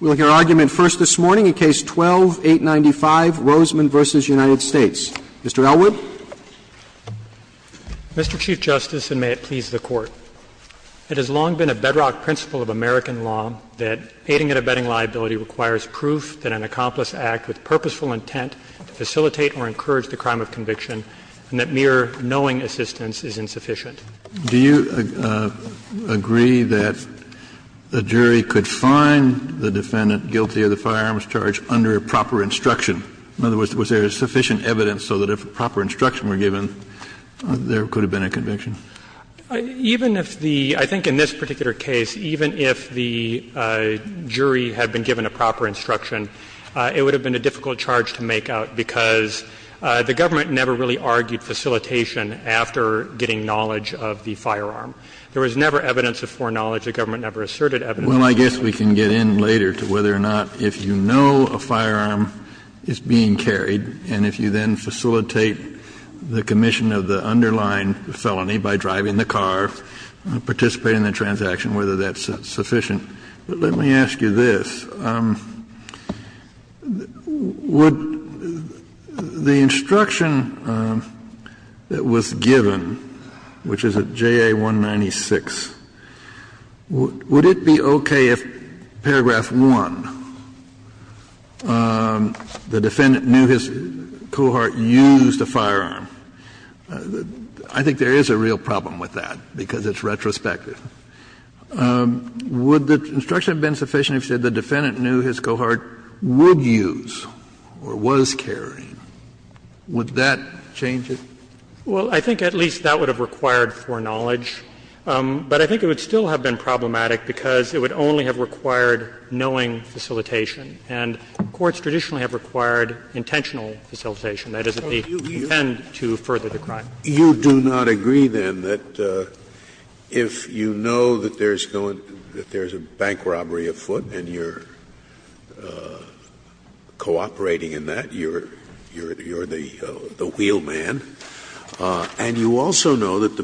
We'll hear argument first this morning in Case 12-895, Rosemond v. United States. Mr. Elwood. Mr. Chief Justice, and may it please the Court, it has long been a bedrock principle of American law that aiding and abetting liability requires proof that an accomplice act with purposeful intent to facilitate or encourage the crime of conviction and that mere knowing assistance is insufficient. Kennedy, do you agree that a jury could find the defendant guilty of the firearms charge under proper instruction? In other words, was there sufficient evidence so that if proper instruction were given, there could have been a conviction? Even if the – I think in this particular case, even if the jury had been given a proper instruction, it would have been a difficult charge to make out because the government never really argued facilitation after getting knowledge of the firearm. There was never evidence of foreknowledge. The government never asserted evidence of foreknowledge. Well, I guess we can get in later to whether or not if you know a firearm is being carried and if you then facilitate the commission of the underlying felony by driving the car, participate in the transaction, whether that's sufficient. Kennedy, I'm sorry, but let me ask you this. Would the instruction that was given, which is at JA-196, would it be okay if paragraph 1, the defendant knew his cohort used a firearm? I think there is a real problem with that because it's retrospective. Would the instruction have been sufficient if you said the defendant knew his cohort would use or was carrying? Would that change it? Well, I think at least that would have required foreknowledge, but I think it would still have been problematic because it would only have required knowing facilitation. And courts traditionally have required intentional facilitation. That is, if they intend to further the crime. Scalia, you do not agree, then, that if you know that there's going to be a bank robbery afoot and you're cooperating in that, you're the wheelman, and you also know that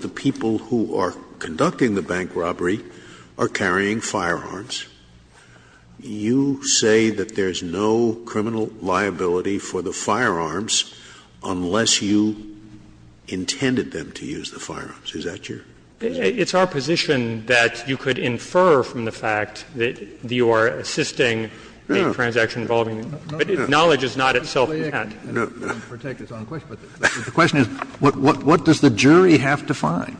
the people who are conducting the bank robbery are carrying firearms, you say that there's no criminal liability for the firearms unless you have the evidence that you intended them to use the firearms. Is that your position? It's our position that you could infer from the fact that you are assisting a transaction involving the bank. But knowledge is not itself a patent. No. The question is, what does the jury have to find?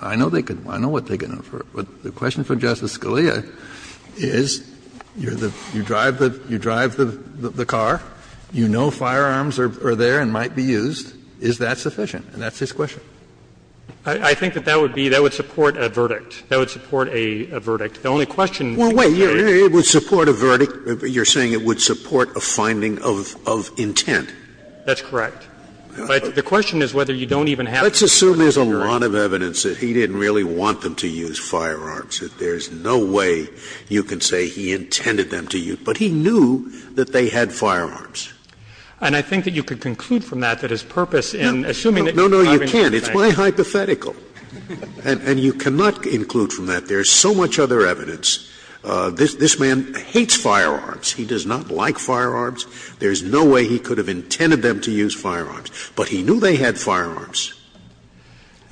I know they could – I know what they can infer. But the question for Justice Scalia is, you're the – you drive the car, you know that the firearms are there and might be used, is that sufficient? And that's his question. I think that that would be – that would support a verdict. That would support a verdict. The only question that we have here is – Well, wait. It would support a verdict. You're saying it would support a finding of intent. That's correct. But the question is whether you don't even have to use firearms. Let's assume there's a lot of evidence that he didn't really want them to use firearms, that there's no way you can say he intended them to use. But he knew that they had firearms. And I think that you could conclude from that that his purpose in assuming that you're driving the car. No, no, you can't. It's my hypothetical. And you cannot include from that there's so much other evidence. This man hates firearms. He does not like firearms. There's no way he could have intended them to use firearms. But he knew they had firearms.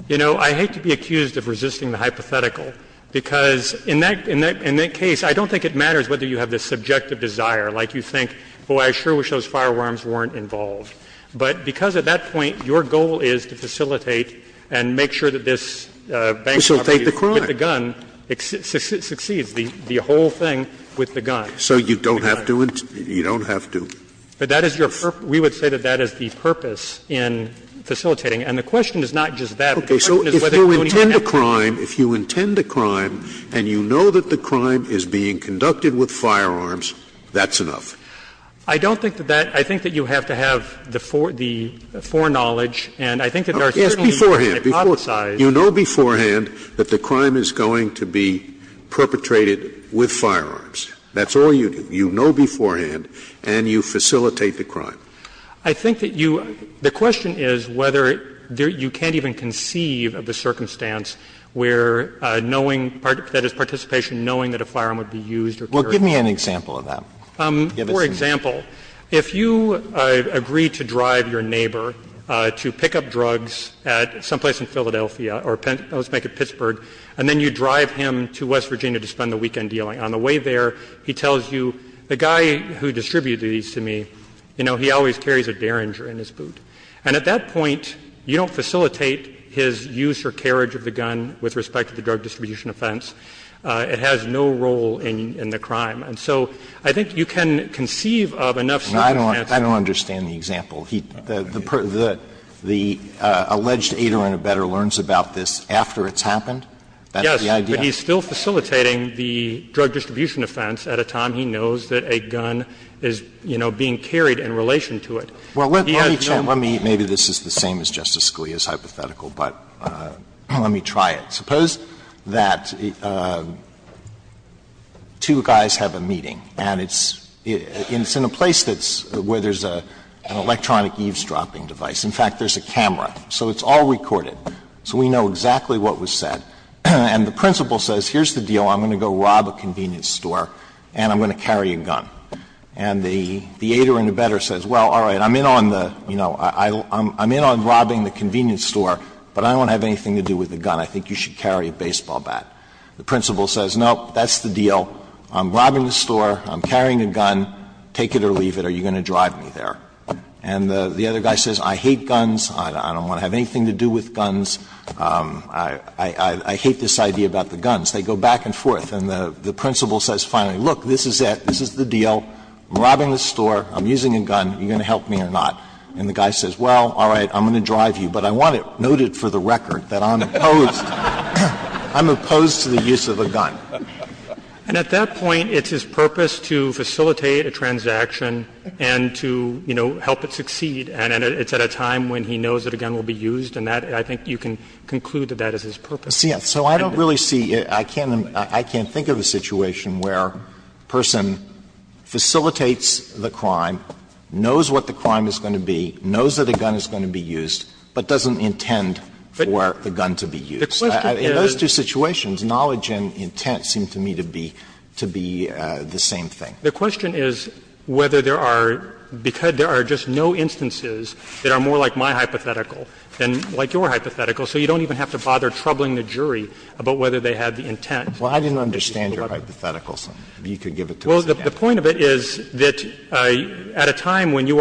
You know, I hate to be accused of resisting the hypothetical, because in that case I don't think it matters whether you have this subjective desire, like you think, boy, I sure wish those firearms weren't involved. But because at that point your goal is to facilitate and make sure that this bank robbery with the gun succeeds, the whole thing with the gun. So you don't have to intend, you don't have to. But that is your purpose. We would say that that is the purpose in facilitating. And the question is not just that, the question is whether you don't even have to. Okay. So if you intend a crime, if you intend a crime and you know that the crime is being conducted with firearms, that's enough. I don't think that that — I think that you have to have the foreknowledge. And I think that there are certainly ways to hypothesize. Yes, beforehand. You know beforehand that the crime is going to be perpetrated with firearms. That's all you do. You know beforehand, and you facilitate the crime. I think that you — the question is whether you can't even conceive of the circumstance where knowing — that is, participation, knowing that a firearm would be used or carried Well, give me an example of that. For example, if you agree to drive your neighbor to pick up drugs at someplace in Philadelphia, or let's make it Pittsburgh, and then you drive him to West Virginia to spend the weekend dealing, on the way there, he tells you, the guy who distributes these to me, you know, he always carries a Derringer in his boot. And at that point, you don't facilitate his use or carriage of the gun with respect to the drug distribution offense. It has no role in the crime. And so I think you can conceive of enough circumstances. Alito I don't understand the example. The alleged aider-in-a-bedder learns about this after it's happened? That's the idea? Yes, but he's still facilitating the drug distribution offense at a time he knows that a gun is, you know, being carried in relation to it. He has no— Well, let me — maybe this is the same as Justice Scalia's hypothetical, but let me try it. Suppose that two guys have a meeting, and it's in a place that's — where there's an electronic eavesdropping device. In fact, there's a camera, so it's all recorded, so we know exactly what was said. And the principal says, here's the deal, I'm going to go rob a convenience store, and I'm going to carry a gun. And the aider-in-a-bedder says, well, all right, I'm in on the, you know, I'm in on robbing the convenience store, but I don't have anything to do with the gun. I think you should carry a baseball bat. The principal says, no, that's the deal. I'm robbing the store, I'm carrying a gun, take it or leave it, are you going to drive me there? And the other guy says, I hate guns, I don't want to have anything to do with guns, I hate this idea about the guns. They go back and forth. And the principal says finally, look, this is it, this is the deal, I'm robbing the store, I'm using a gun, are you going to help me or not? And the guy says, well, all right, I'm going to drive you, but I want it noted for the record that I'm opposed. I'm opposed to the use of a gun. And at that point, it's his purpose to facilitate a transaction and to, you know, help it succeed, and it's at a time when he knows that a gun will be used, and that, I think you can conclude that that is his purpose. So I don't really see – I can't think of a situation where a person facilitates the crime, knows what the crime is going to be, knows that a gun is going to be used, but doesn't intend for the gun to be used. In those two situations, knowledge and intent seem to me to be the same thing. The question is whether there are – because there are just no instances that are more like my hypothetical than like your hypothetical, so you don't even have to bother troubling the jury about whether they had the intent. Well, I didn't understand your hypothetical, so if you could give it to us again. Well, the point of it is that at a time when you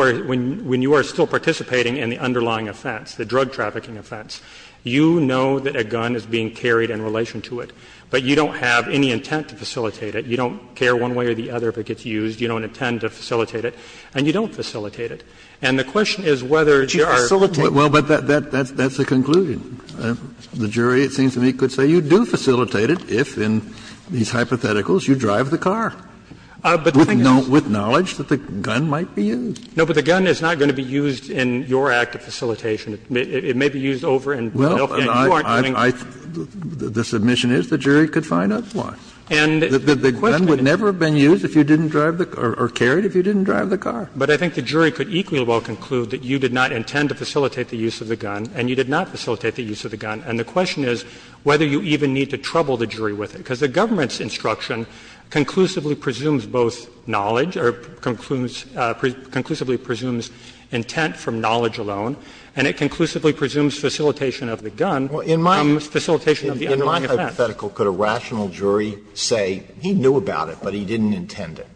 are still participating in the underlying offense, the drug trafficking offense, you know that a gun is being carried in relation to it, but you don't have any intent to facilitate it. You don't care one way or the other if it gets used. You don't intend to facilitate it, and you don't facilitate it. And the question is whether there are – But you facilitate it. Well, but that's the conclusion. The jury, it seems to me, could say you do facilitate it if, in these hypotheticals, you drive the car with knowledge that the gun might be used. No, but the gun is not going to be used in your act of facilitation. It may be used over and you aren't doing it. Well, I – the submission is the jury could find out why. And the question is – The gun would never have been used if you didn't drive the – or carried if you didn't drive the car. But I think the jury could equally well conclude that you did not intend to facilitate the use of the gun and you did not facilitate the use of the gun. And the question is whether you even need to trouble the jury with it, because the government's instruction conclusively presumes both knowledge or concludes – conclusively presumes intent from knowledge alone, and it conclusively presumes facilitation of the gun from facilitation of the underlying offense. In my hypothetical, could a rational jury say he knew about it, but he didn't intend it?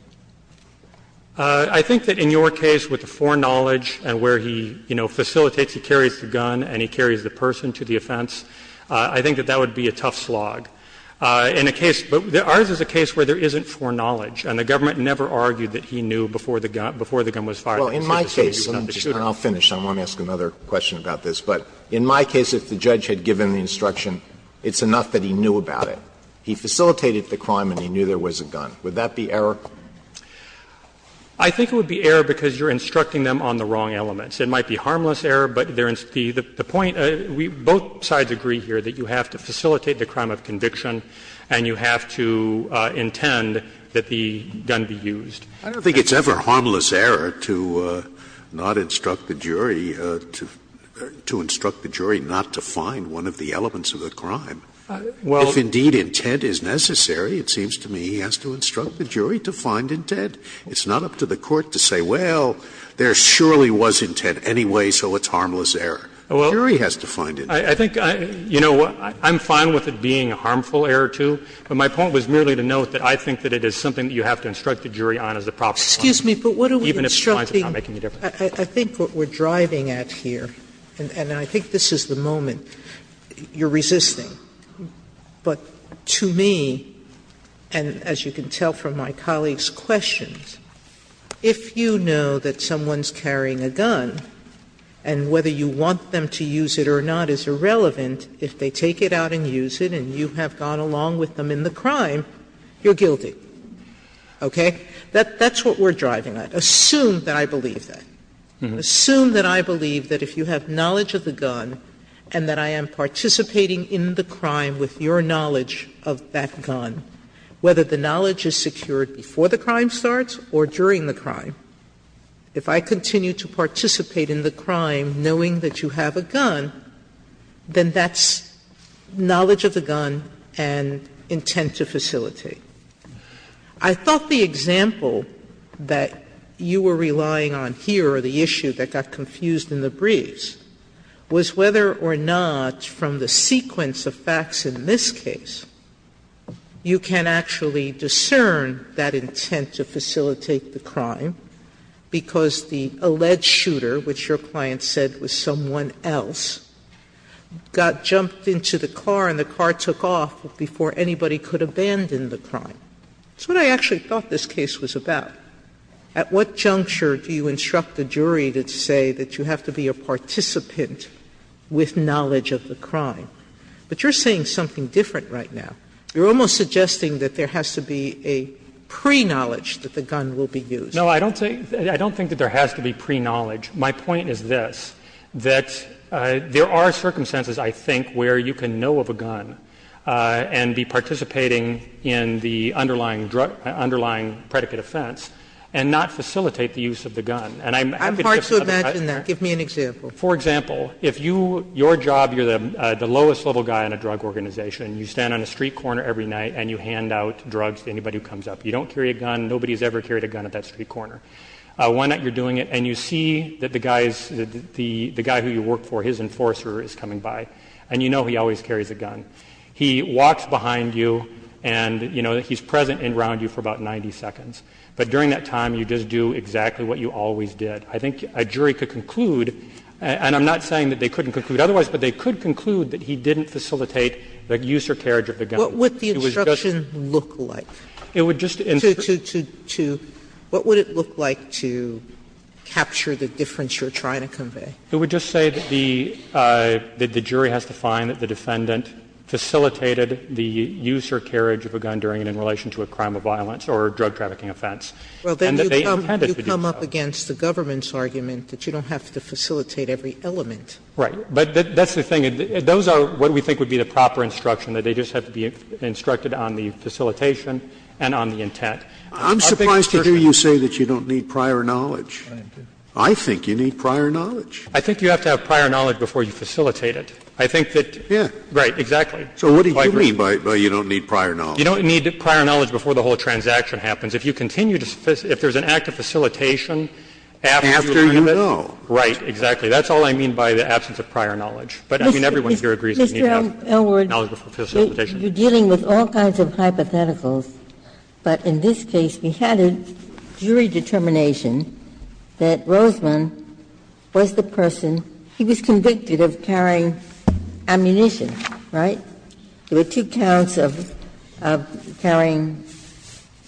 I think that in your case, with the foreknowledge and where he, you know, facilitates – he carries the gun and he carries the person to the offense – I think that that would be a tough slog. In a case – but ours is a case where there isn't foreknowledge, and the government never argued that he knew before the gun was fired. Alito, in my case, and I'll finish. I want to ask another question about this. But in my case, if the judge had given the instruction, it's enough that he knew about it. He facilitated the crime and he knew there was a gun. Would that be error? I think it would be error because you're instructing them on the wrong elements. It might be harmless error, but there is the point – both sides agree here that you have to facilitate the crime of conviction and you have to intend that the gun would be used. I don't think it's ever harmless error to not instruct the jury to – to instruct the jury not to find one of the elements of the crime. Well, if indeed intent is necessary, it seems to me he has to instruct the jury to find intent. It's not up to the court to say, well, there surely was intent anyway, so it's harmless error. The jury has to find intent. I think, you know, I'm fine with it being a harmful error, too, but my point was merely to note that I think that it is something that you have to instruct the jury on as a proper point of view, even if it's not making a difference. Sotomayor, I think what we're driving at here, and I think this is the moment you're resisting, but to me, and as you can tell from my colleague's questions, if you know that someone's carrying a gun and whether you want them to use it or not is irrelevant, if they take it out and use it and you have gone along with them in the crime, you're guilty. Okay? That's what we're driving at. Assume that I believe that. Assume that I believe that if you have knowledge of the gun and that I am participating in the crime with your knowledge of that gun, whether the knowledge is secured before the crime starts or during the crime, if I continue to participate in the crime knowing that you have a gun, then that's knowledge of the gun and intent to facilitate. I thought the example that you were relying on here, or the issue that got confused in the briefs, was whether or not from the sequence of facts in this case, you can actually discern that intent to facilitate the crime, because the alleged shooter, which your client said was someone else, got jumped into the car and the car took off before anybody could abandon the crime. That's what I actually thought this case was about. At what juncture do you instruct a jury to say that you have to be a participant with knowledge of the crime? But you're saying something different right now. You're almost suggesting that there has to be a pre-knowledge that the gun will be used. No, I don't think that there has to be pre-knowledge. My point is this, that there are circumstances, I think, where you can know of a gun. And be participating in the underlying drug, underlying predicate offense, and not facilitate the use of the gun. And I'm happy to give you another example. I'm hard to imagine that. Give me an example. For example, if you, your job, you're the lowest level guy in a drug organization, you stand on a street corner every night and you hand out drugs to anybody who comes up. You don't carry a gun. Nobody's ever carried a gun at that street corner. Why not? You're doing it, and you see that the guy's, the guy who you work for, his enforcer is coming by, and you know he always carries a gun. He walks behind you and, you know, he's present and around you for about 90 seconds. But during that time, you just do exactly what you always did. I think a jury could conclude, and I'm not saying that they couldn't conclude otherwise, but they could conclude that he didn't facilitate the use or carriage of the gun. It was just a question of what it would look like to capture the difference you're trying to convey. It would just say that the jury has to find that the defendant facilitated the use or carriage of a gun during and in relation to a crime of violence or a drug trafficking offense. And that they intended to do so. Sotomayor, you come up against the government's argument that you don't have to facilitate every element. Right. But that's the thing. Those are what we think would be the proper instruction, that they just have to be instructed on the facilitation and on the intent. I'm surprised to hear you say that you don't need prior knowledge. I think you need prior knowledge. I think you have to have prior knowledge before you facilitate it. I think that you're right, exactly. So what do you mean by you don't need prior knowledge? You don't need prior knowledge before the whole transaction happens. If you continue to facilitate, if there's an act of facilitation after you learn of it. After you know. Right, exactly. That's all I mean by the absence of prior knowledge. But I mean, everyone here agrees you need to have prior knowledge before facilitation. Mr. Elwood, you're dealing with all kinds of hypotheticals, but in this case we had a judgment, jury determination, that Rosemann was the person, he was convicted of carrying ammunition, right? There were two counts of carrying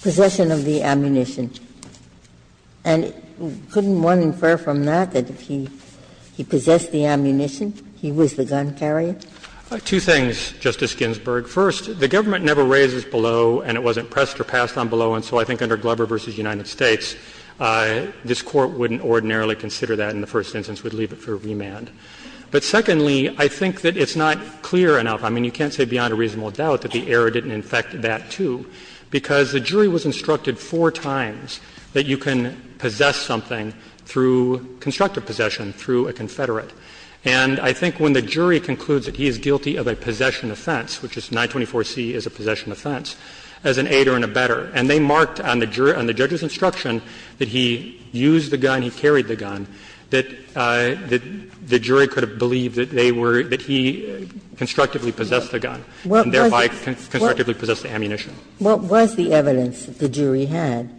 possession of the ammunition. And couldn't one infer from that that if he possessed the ammunition, he was the gun carrier? Two things, Justice Ginsburg. First, the government never raises below, and it wasn't pressed or passed on below. And so I think under Glover v. United States, this Court wouldn't ordinarily consider that in the first instance. It would leave it for remand. But secondly, I think that it's not clear enough. I mean, you can't say beyond a reasonable doubt that the error didn't infect that, too, because the jury was instructed four times that you can possess something through constructive possession, through a confederate. And I think when the jury concludes that he is guilty of a possession offense, which is 924C is a possession offense, as an aider and a better, and they may not have marked on the judge's instruction that he used the gun, he carried the gun, that the jury could have believed that they were, that he constructively possessed the gun, and thereby constructively possessed the ammunition. What was the evidence that the jury had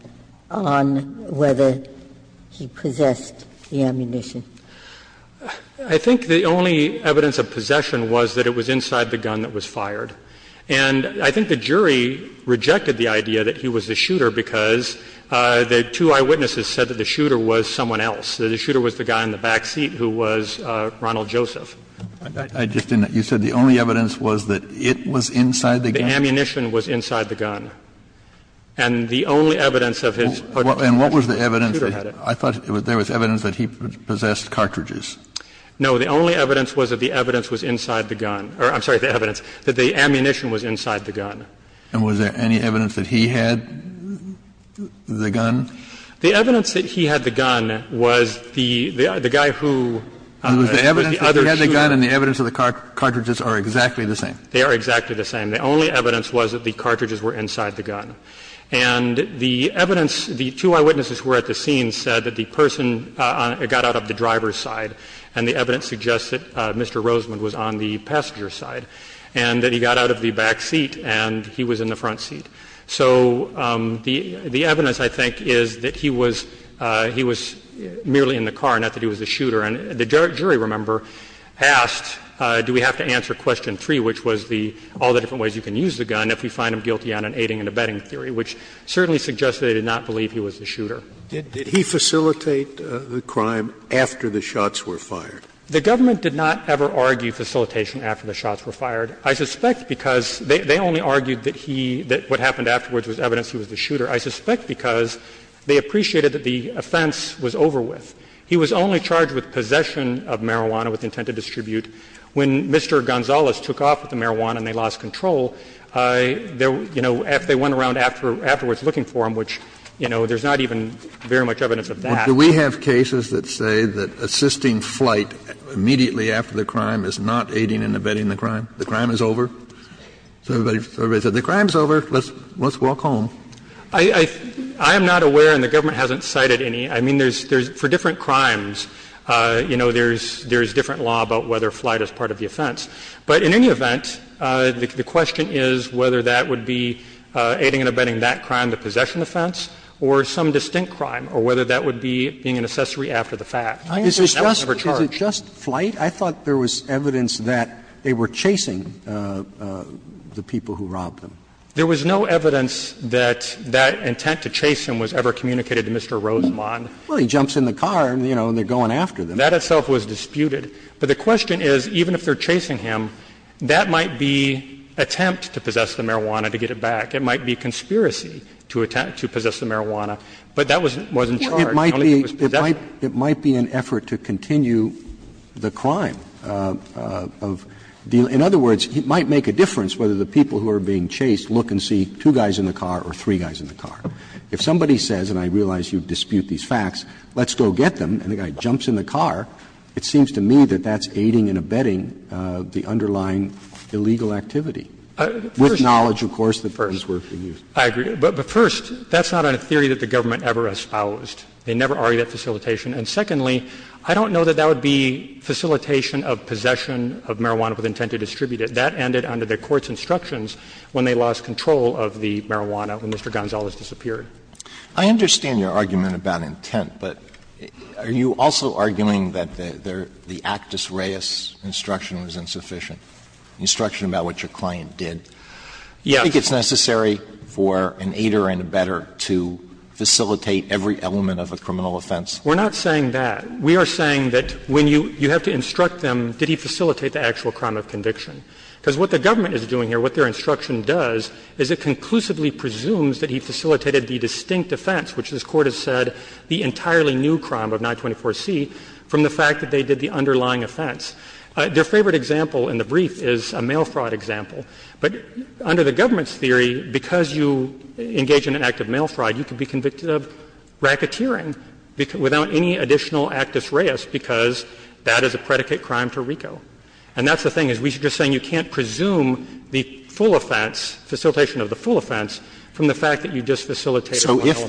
on whether he possessed the ammunition? I think the only evidence of possession was that it was inside the gun that was fired. And I think the jury rejected the idea that he was the shooter because the two eyewitnesses said that the shooter was someone else, that the shooter was the guy in the backseat who was Ronald Joseph. Kennedy, you said the only evidence was that it was inside the gun? The ammunition was inside the gun. And the only evidence of his possession was that the shooter had it. And what was the evidence? I thought there was evidence that he possessed cartridges. No. The only evidence was that the evidence was inside the gun. I'm sorry, the evidence, that the ammunition was inside the gun. And was there any evidence that he had the gun? The evidence that he had the gun was the guy who was the other shooter. And the evidence of the gun and the evidence of the cartridges are exactly the same? They are exactly the same. The only evidence was that the cartridges were inside the gun. And the evidence, the two eyewitnesses who were at the scene said that the person got out of the driver's side, and the evidence suggests that Mr. Rosemond was on the passenger's side, and that he got out of the backseat and he was in the front seat. So the evidence, I think, is that he was merely in the car, not that he was the shooter. And the jury, remember, asked, do we have to answer question 3, which was all the different ways you can use the gun, if we find him guilty on an aiding and abetting theory, which certainly suggests they did not believe he was the shooter. Did he facilitate the crime after the shots were fired? The government did not ever argue facilitation after the shots were fired. I suspect because they only argued that he — that what happened afterwards was evidence he was the shooter. I suspect because they appreciated that the offense was over with. He was only charged with possession of marijuana with intent to distribute. When Mr. Gonzales took off with the marijuana and they lost control, you know, if they went around afterwards looking for him, which, you know, there's not even very much evidence of that. Kennedy, do we have cases that say that assisting flight immediately after the crime is not aiding and abetting the crime, the crime is over? So everybody said the crime is over, let's walk home. I am not aware, and the government hasn't cited any. I mean, there's — for different crimes, you know, there's different law about whether flight is part of the offense. But in any event, the question is whether that would be aiding and abetting that would be being an accessory after the fact. That was never charged. Is it just flight? I thought there was evidence that they were chasing the people who robbed them. There was no evidence that that intent to chase him was ever communicated to Mr. Rosemond. Well, he jumps in the car, you know, and they're going after them. That itself was disputed. But the question is, even if they're chasing him, that might be attempt to possess the marijuana to get it back. It might be conspiracy to attempt to possess the marijuana. But that wasn't charged. It might be an effort to continue the crime of the — in other words, it might make a difference whether the people who are being chased look and see two guys in the car or three guys in the car. If somebody says, and I realize you dispute these facts, let's go get them, and the guy jumps in the car, it seems to me that that's aiding and abetting the underlying illegal activity. With knowledge, of course, that those were being used. I agree. But first, that's not a theory that the government ever espoused. They never argued that facilitation. And secondly, I don't know that that would be facilitation of possession of marijuana with intent to distribute it. That ended under the court's instructions when they lost control of the marijuana when Mr. Gonzalez disappeared. I understand your argument about intent, but are you also arguing that the Actus Reis instruction was insufficient, instruction about what your client did? Yes. I think it's necessary for an aider and abetter to facilitate every element of a criminal offense. We're not saying that. We are saying that when you have to instruct them, did he facilitate the actual crime of conviction? Because what the government is doing here, what their instruction does, is it conclusively presumes that he facilitated the distinct offense, which this Court has said the entirely new crime of 924C, from the fact that they did the underlying offense. Their favorite example in the brief is a mail fraud example. But under the government's theory, because you engage in an act of mail fraud, you can be convicted of racketeering without any additional Actus Reis because that is a predicate crime to RICO. And that's the thing, is we're just saying you can't presume the full offense, facilitation of the full offense, from the fact that you just facilitated the underlying offense. Alito, if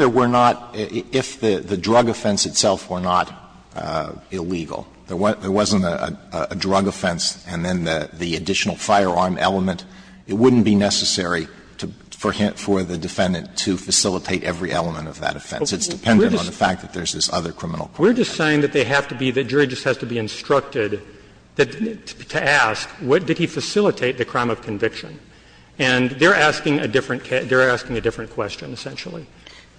there were not the drug offense itself were not illegal, there wasn't a drug offense and then the additional firearm element, it wouldn't be necessary for the defendant to facilitate every element of that offense. It's dependent on the fact that there's this other criminal crime. We're just saying that they have to be, the jury just has to be instructed to ask, did he facilitate the crime of conviction? And they're asking a different question, essentially.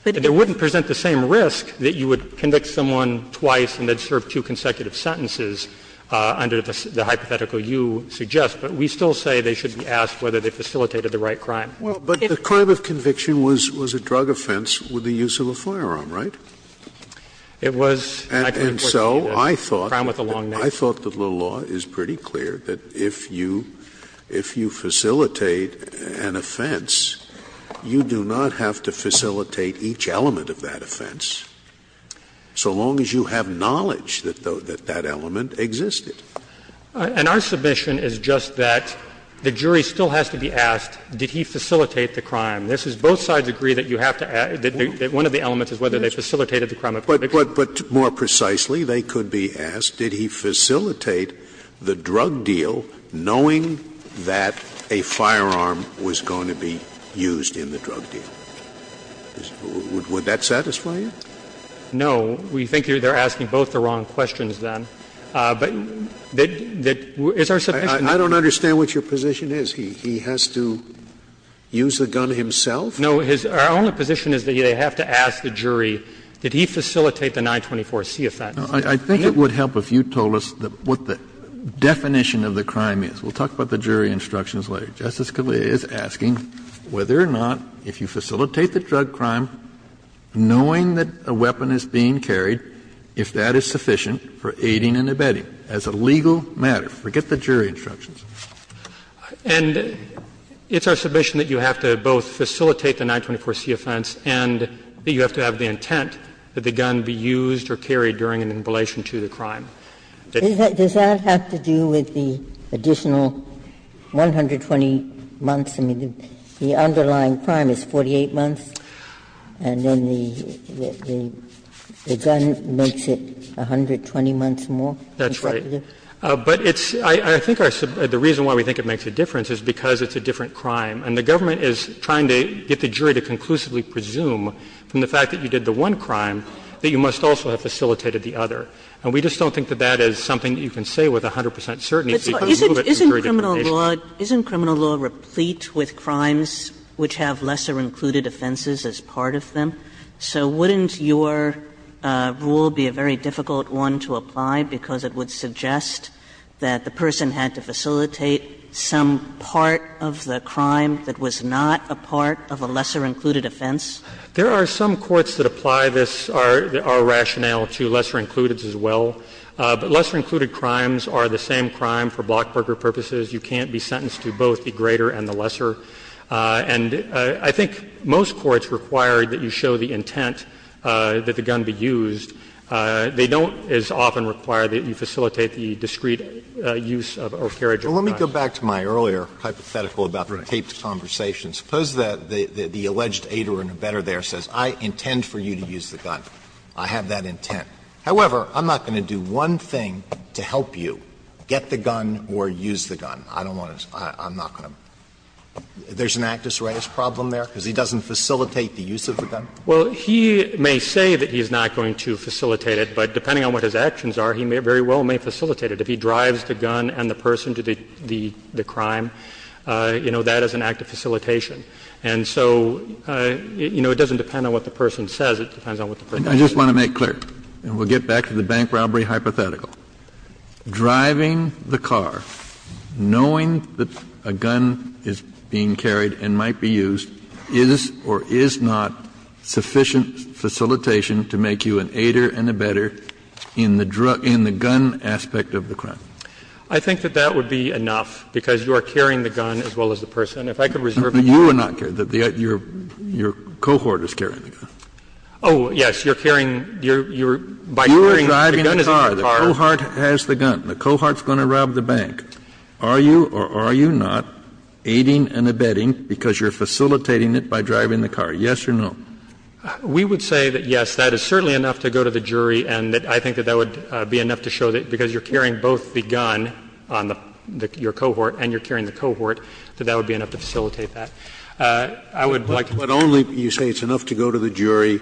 They wouldn't present the same risk that you would convict someone twice and then serve two consecutive sentences under the hypothetical you suggest, but we still say they should be asked whether they facilitated the right crime. Scalia, but the crime of conviction was a drug offense with the use of a firearm, right? It was, I can report to you as a crime with a long name. And so I thought that the law is pretty clear that if you facilitate an offense, you do not have to facilitate each element of that offense, so long as you have the knowledge that that element existed. And our submission is just that the jury still has to be asked, did he facilitate the crime? This is both sides agree that you have to ask, that one of the elements is whether they facilitated the crime of conviction. But more precisely, they could be asked, did he facilitate the drug deal, knowing that a firearm was going to be used in the drug deal? Would that satisfy you? No. We think they're asking both the wrong questions, then. But is our submission to you? Scalia, I don't understand what your position is. He has to use the gun himself? No. Our only position is that they have to ask the jury, did he facilitate the 924c offense? Kennedy, I think it would help if you told us what the definition of the crime is. We'll talk about the jury instructions later. Justice Scalia is asking whether or not, if you facilitate the drug crime, knowing that a weapon is being carried, if that is sufficient for aiding and abetting as a legal matter. Forget the jury instructions. And it's our submission that you have to both facilitate the 924c offense and that you have to have the intent that the gun be used or carried during an inflation to the crime. Does that have to do with the additional 120 months? I mean, the underlying crime is 48 months. And then the gun makes it 120 months more? That's right. But it's the reason why we think it makes a difference is because it's a different crime. And the government is trying to get the jury to conclusively presume from the fact that you did the one crime that you must also have facilitated the other. And we just don't think that that is something that you can say with 100 percent certainty. Because you move it to jury determination. Isn't criminal law replete with crimes which have lesser included offenses as part of them? So wouldn't your rule be a very difficult one to apply? Because it would suggest that the person had to facilitate some part of the crime that was not a part of a lesser included offense? There are some courts that apply this to our rationale to lesser included as well. Lesser included crimes are the same crime for block broker purposes. You can't be sentenced to both the greater and the lesser. And I think most courts require that you show the intent that the gun be used. They don't as often require that you facilitate the discrete use of or carriage of a gun. Alito, let me go back to my earlier hypothetical about the taped conversation. Suppose that the alleged aider and abettor there says, I intend for you to use the I have that intent. However, I'm not going to do one thing to help you get the gun or use the gun. I don't want to – I'm not going to – there's an actus reus problem there because he doesn't facilitate the use of the gun? Well, he may say that he's not going to facilitate it, but depending on what his actions are, he may very well may facilitate it. If he drives the gun and the person to the crime, you know, that is an act of facilitation. And so, you know, it doesn't depend on what the person says, it depends on what the person does. Kennedy, I just want to make clear, and we'll get back to the bank robbery hypothetical. Driving the car, knowing that a gun is being carried and might be used, is or is not sufficient facilitation to make you an aider and abettor in the gun aspect of the crime? I think that that would be enough, because you are carrying the gun as well as the person. If I could reserve the floor. You are not carrying the gun. Your cohort is carrying the gun. Oh, yes, you're carrying, you're, you're, by carrying, the gun is in the car. You're driving the car, the cohort has the gun, the cohort is going to rob the bank. Are you or are you not aiding and abetting because you're facilitating it by driving the car, yes or no? We would say that, yes, that is certainly enough to go to the jury, and that I think that that would be enough to show that because you're carrying both the gun on the cohort and you're carrying the cohort, that that would be enough to facilitate that. I would like to make sure. But only you say it's enough to go to the jury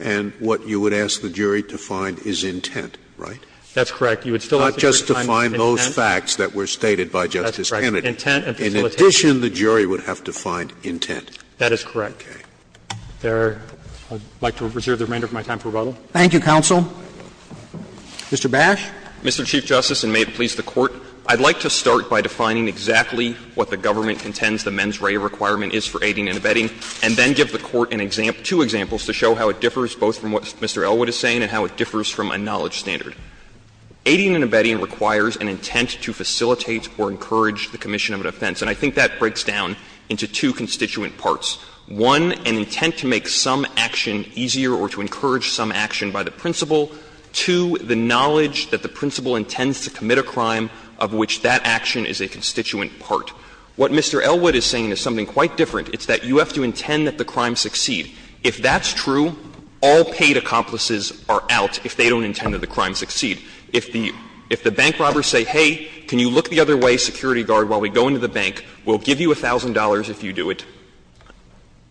and what you would ask the jury to find is intent, right? That's correct. You would still ask the jury to find intent. Not just to find those facts that were stated by Justice Kennedy. Intent and facilitation. In addition, the jury would have to find intent. That is correct. Okay. There, I would like to reserve the remainder of my time for rebuttal. Thank you, counsel. Mr. Bash. Mr. Chief Justice, and may it please the Court, I'd like to start by defining exactly what the government intends the mens rea requirement is for aiding and abetting, and then give the Court an example, two examples to show how it differs both from what Mr. Elwood is saying and how it differs from a knowledge standard. Aiding and abetting requires an intent to facilitate or encourage the commission of an offense, and I think that breaks down into two constituent parts. One, an intent to make some action easier or to encourage some action by the principal. Two, the knowledge that the principal intends to commit a crime of which that action is a constituent part. What Mr. Elwood is saying is something quite different. It's that you have to intend that the crime succeed. If that's true, all paid accomplices are out if they don't intend that the crime succeed. If the bank robbers say, hey, can you look the other way, security guard, while we go into the bank, we'll give you $1,000 if you do it,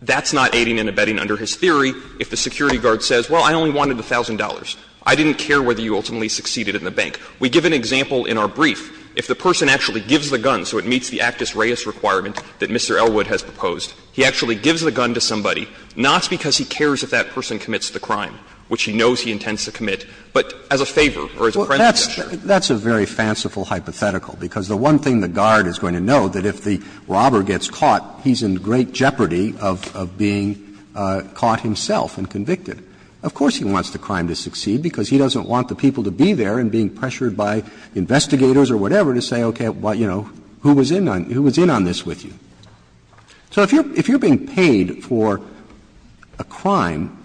that's not aiding and abetting under his theory. If the security guard says, well, I only wanted $1,000, I didn't care whether you ultimately succeeded in the bank. We give an example in our brief. If the person actually gives the gun so it meets the actus reus requirement that Mr. Elwood has proposed, he actually gives the gun to somebody, not because he cares if that person commits the crime, which he knows he intends to commit, but as a favor or as a friendly gesture. Roberts. That's a very fanciful hypothetical, because the one thing the guard is going to know, that if the robber gets caught, he's in great jeopardy of being caught himself and convicted. Of course he wants the crime to succeed, because he doesn't want the people to be there and being pressured by investigators or whatever to say, okay, well, you know, who was in on this with you. So if you're being paid for a crime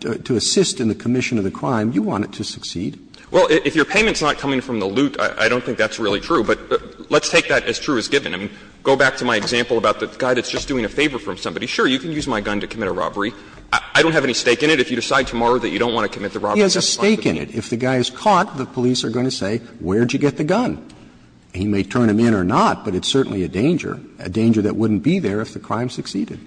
to assist in the commission of the crime, you want it to succeed. Well, if your payment is not coming from the loot, I don't think that's really true, but let's take that as true as given. I mean, go back to my example about the guy that's just doing a favor from somebody. Sure, you can use my gun to commit a robbery. I don't have any stake in it. If you decide tomorrow that you don't want to commit the robbery, that's fine. He has a stake in it. If the guy is caught, the police are going to say, where did you get the gun? He may turn him in or not, but it's certainly a danger, a danger that wouldn't be there if the crime succeeded.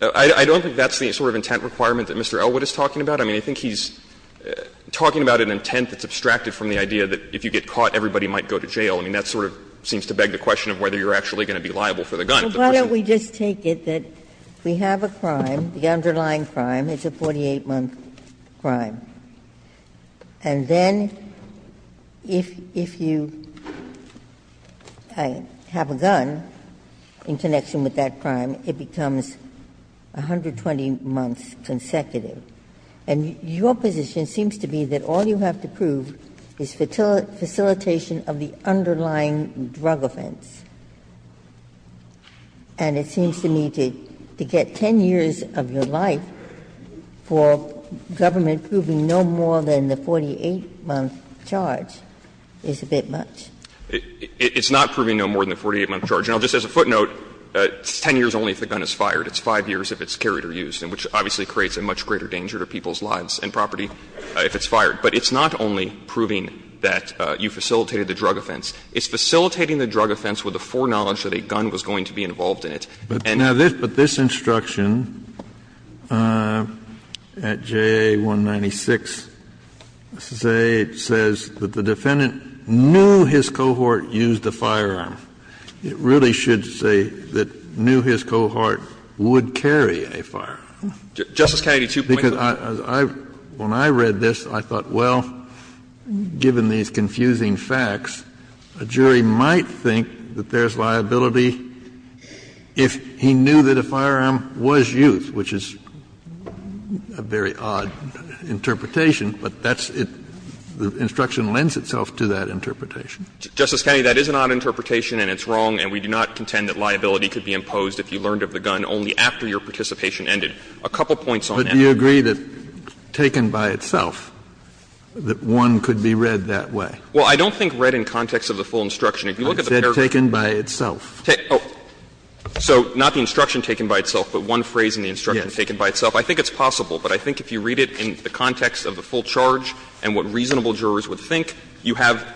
I don't think that's the sort of intent requirement that Mr. Elwood is talking about. I mean, I think he's talking about an intent that's abstracted from the idea that if you get caught, everybody might go to jail. I mean, that sort of seems to beg the question of whether you're actually going to be liable for the gun. Ginsburg. Ginsburg, why don't we just take it that we have a crime, the underlying crime, it's a 48-month crime, and then if you have a gun in connection with that crime, it becomes 120 months consecutive, and your position seems to be that all you have to prove is facilitation of the underlying drug offense. And it seems to me to get 10 years of your life for government proving no more than the 48-month charge is a bit much. It's not proving no more than the 48-month charge. Now, just as a footnote, it's 10 years only if the gun is fired. It's 5 years if it's carried or used, which obviously creates a much greater danger to people's lives and property if it's fired. But it's not only proving that you facilitated the drug offense. It's facilitating the drug offense with the foreknowledge that a gun was going to be involved in it. And the other thing is that if you have a gun in connection with that crime, it's Kennedy, but this instruction at J.A. 196 says that the defendant knew his cohort used a firearm. It really should say that knew his cohort would carry a firearm. Because I, when I read this, I thought, well, given these confusing facts, a jury might think that there's liability if he knew that a firearm was used, which is a very odd interpretation, but that's the instruction lends itself to that interpretation. Justice Kennedy, that is an odd interpretation and it's wrong, and we do not contend that liability could be imposed if you learned of the gun only after your participation ended. A couple points on that. Kennedy, but do you agree that, taken by itself, that one could be read that way? Well, I don't think read in context of the full instruction. If you look at the paragraph. I said taken by itself. Oh, so not the instruction taken by itself, but one phrase in the instruction taken by itself. I think it's possible, but I think if you read it in the context of the full charge and what reasonable jurors would think, you have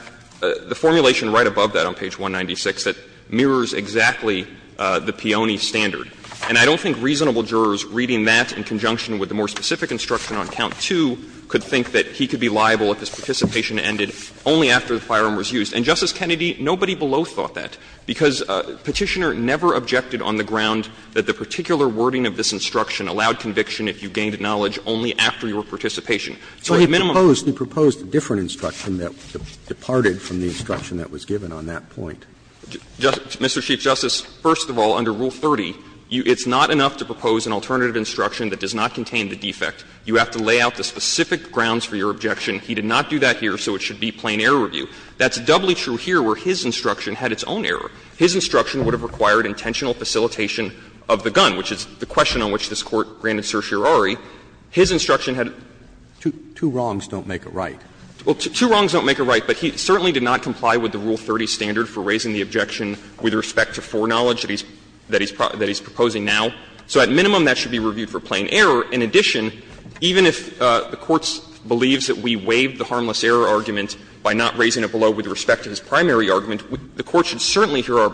the formulation right above that on page 196 that mirrors exactly the Peone standard. And I don't think reasonable jurors reading that in conjunction with the more specific instruction on count two could think that he could be liable if his participation ended only after the firearm was used. And, Justice Kennedy, nobody below thought that, because Petitioner never objected on the ground that the particular wording of this instruction allowed conviction if you gained knowledge only after your participation. So he minimized. He proposed a different instruction that departed from the instruction that was given on that point. Mr. Chief Justice, first of all, under Rule 30, it's not enough to propose an alternative instruction that does not contain the defect. You have to lay out the specific grounds for your objection. He did not do that here, so it should be plain error review. That's doubly true here where his instruction had its own error. His instruction would have required intentional facilitation of the gun, which is the question on which this Court granted certiorari. His instruction had a Two wrongs don't make a right. Well, two wrongs don't make a right, but he certainly did not comply with the Rule 30 standard for raising the objection with respect to foreknowledge that he's proposing now. So at minimum, that should be reviewed for plain error. In addition, even if the Court believes that we waived the harmless error argument by not raising it below with respect to his primary argument, the Court should certainly hear our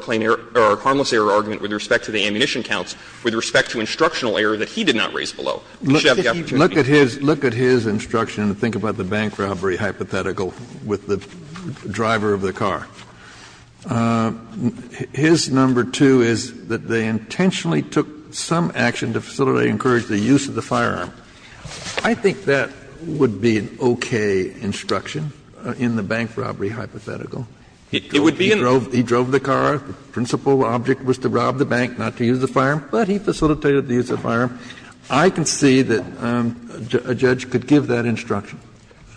harmless error argument with respect to the ammunition counts with respect to instructional error that he did not raise below. Kennedy, look at his instruction and think about the bank robbery hypothetical with the driver of the car. His number two is that they intentionally took some action to facilitate and encourage the use of the firearm. I think that would be an okay instruction in the bank robbery hypothetical. He drove the car. The principal object was to rob the bank, not to use the firearm, but he facilitated the use of the firearm. I can see that a judge could give that instruction.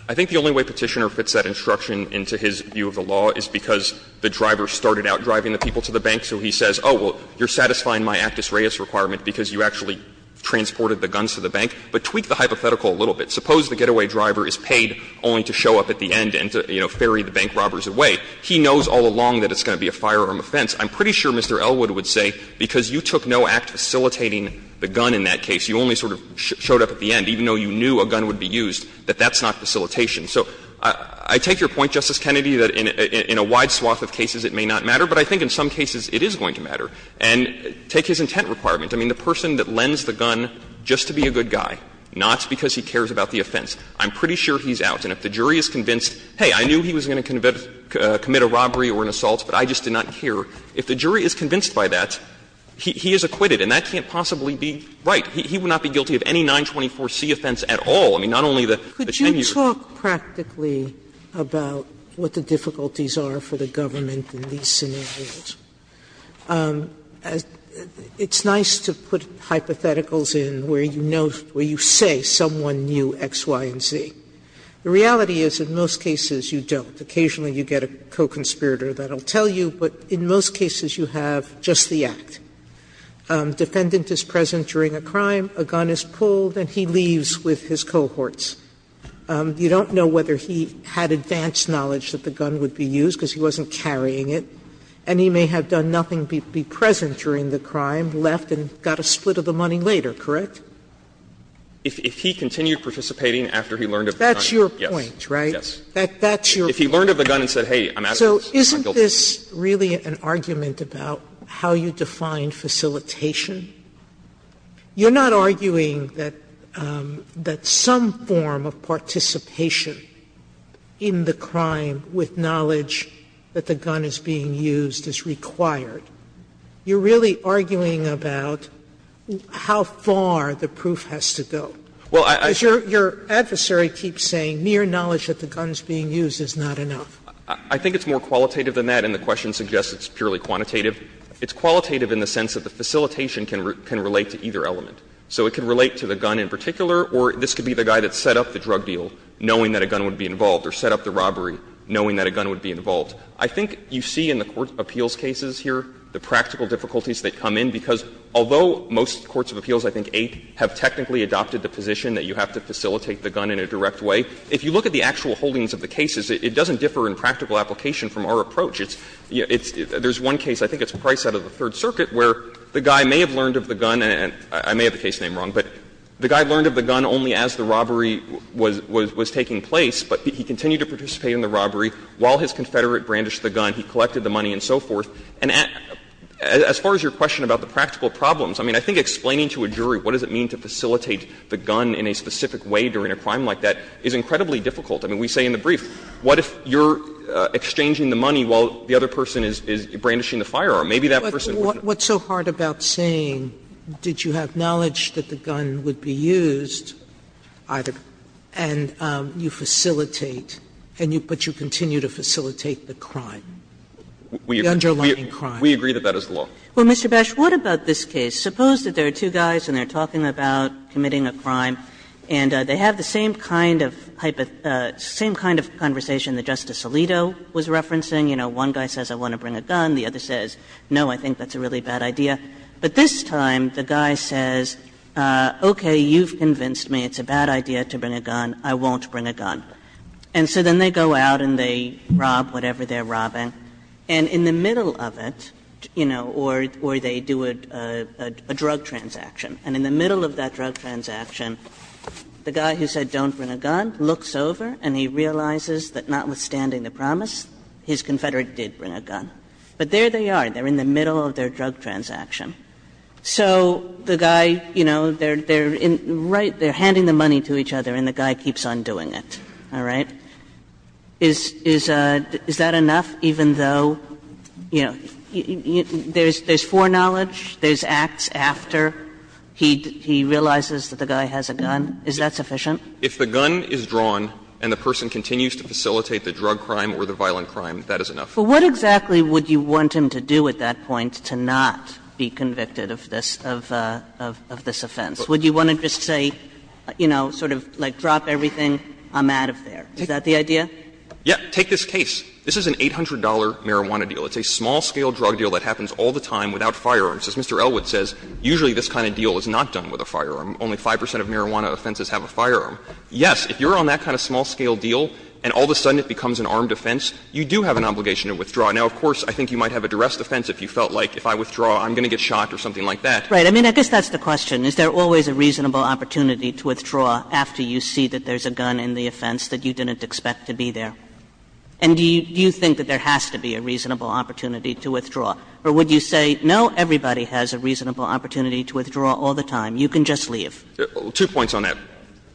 I think the only way Petitioner fits that instruction into his view of the law is because the driver started out driving the people to the bank, so he says, oh, well, you're satisfying my actus reus requirement because you actually transported the guns to the But tweak the hypothetical a little bit. Suppose the getaway driver is paid only to show up at the end and to, you know, ferry the bank robbers away. He knows all along that it's going to be a firearm offense. I'm pretty sure Mr. Elwood would say, because you took no act facilitating the gun in that case, you only sort of showed up at the end, even though you knew a gun would be used, that that's not facilitation. So I take your point, Justice Kennedy, that in a wide swath of cases it may not matter, but I think in some cases it is going to matter. And take his intent requirement. I mean, the person that lends the gun just to be a good guy, not because he cares about the offense, I'm pretty sure he's out. And if the jury is convinced, hey, I knew he was going to commit a robbery or an assault, but I just did not care. If the jury is convinced by that, he is acquitted, and that can't possibly be right. He would not be guilty of any 924C offense at all. I mean, not only the 10-year-old. Sotomayor-Gillian, could you talk practically about what the difficulties are for the government in these scenarios? It's nice to put hypotheticals in where you know, where you say someone knew X, Y, and Z. The reality is in most cases you don't. Occasionally you get a co-conspirator that will tell you, but in most cases you have just the act. Defendant is present during a crime, a gun is pulled, and he leaves with his cohorts. You don't know whether he had advanced knowledge that the gun would be used because he wasn't carrying it, and he may have done nothing but be present during the crime, left, and got a split of the money later, correct? If he continued participating after he learned of the gun, yes. that's your point, right? That's your point. If he learned of the gun and said, hey, I'm at it, I'm guilty. Sotomayor-Gillian, so isn't this really an argument about how you define facilitation? You're not arguing that some form of participation in the crime with knowledge that the gun is being used is required. You're really arguing about how far the proof has to go. Your adversary keeps saying mere knowledge that the gun is being used is not enough. I think it's more qualitative than that, and the question suggests it's purely quantitative. It's qualitative in the sense that the facilitation can relate to either element. So it can relate to the gun in particular, or this could be the guy that set up the drug deal knowing that a gun would be involved, or set up the robbery knowing that a gun would be involved. I think you see in the court appeals cases here the practical difficulties that come in, because although most courts of appeals, I think eight, have technically adopted the position that you have to facilitate the gun in a direct way, if you look at the actual holdings of the cases, it doesn't differ in practical application from our approach. It's there's one case, I think it's Price out of the Third Circuit, where the guy may have learned of the gun, and I may have the case name wrong, but the guy learned of the gun only as the robbery was taking place, but he continued to participate in the robbery while his confederate brandished the gun, he collected the money, and so forth. And as far as your question about the practical problems, I mean, I think explaining to a jury what does it mean to facilitate the gun in a specific way during a crime like that is incredibly difficult. I mean, we say in the brief, what if you're exchanging the money while the other person is brandishing the firearm? Maybe that person was not going to do it. Sotomayor What's so hard about saying did you have knowledge that the gun would not be used either, and you facilitate, but you continue to facilitate the crime? The underlying crime. Bashiro We agree that that is the law. Kagan Well, Mr. Bash, what about this case? Suppose that there are two guys and they're talking about committing a crime, and they have the same kind of conversation that Justice Alito was referencing. You know, one guy says I want to bring a gun, the other says, no, I think that's a really bad idea. But this time the guy says, okay, you've convinced me it's a bad idea to bring a gun, I won't bring a gun. And so then they go out and they rob whatever they're robbing, and in the middle of it, you know, or they do a drug transaction, and in the middle of that drug transaction, the guy who said don't bring a gun looks over and he realizes that notwithstanding the promise, his confederate did bring a gun. But there they are, they're in the middle of their drug transaction. So the guy, you know, they're in right, they're handing the money to each other and the guy keeps on doing it, all right? Is that enough, even though, you know, there's foreknowledge, there's acts after he realizes that the guy has a gun, is that sufficient? Bashiro If the gun is drawn and the person continues to facilitate the drug crime or the violent crime, that is enough. Kagan But what exactly would you want him to do at that point to not be convicted of this offense? Would you want to just say, you know, sort of like drop everything, I'm out of there? Is that the idea? Take this case. This is an $800 marijuana deal. It's a small-scale drug deal that happens all the time without firearms. As Mr. Elwood says, usually this kind of deal is not done with a firearm. Only 5 percent of marijuana offenses have a firearm. Yes, if you're on that kind of small-scale deal and all of a sudden it becomes an armed offense, you do have an obligation to withdraw. Now, of course, I think you might have a duress defense if you felt like, if I withdraw, I'm going to get shot or something like that. Kagan Right. I mean, I guess that's the question. Is there always a reasonable opportunity to withdraw after you see that there's a gun in the offense that you didn't expect to be there? And do you think that there has to be a reasonable opportunity to withdraw? Or would you say, no, everybody has a reasonable opportunity to withdraw all the time. You can just leave? Bashiro Two points on that.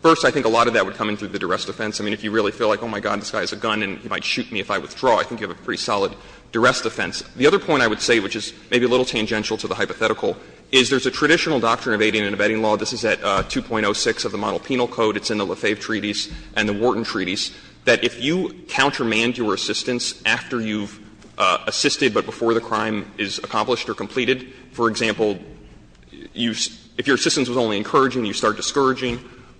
First, I think a lot of that would come into the duress defense. I mean, if you really feel like, oh, my God, this guy has a gun and he might shoot me if I withdraw, I think you have a pretty solid duress defense. The other point I would say, which is maybe a little tangential to the hypothetical, is there's a traditional doctrine of aiding and abetting law. This is at 2.06 of the Monopenal Code. It's in the Lefebvre Treaties and the Wharton Treaties, that if you countermand your assistance after you've assisted but before the crime is accomplished or completed, for example, if your assistance was only encouraging, you start discouraging,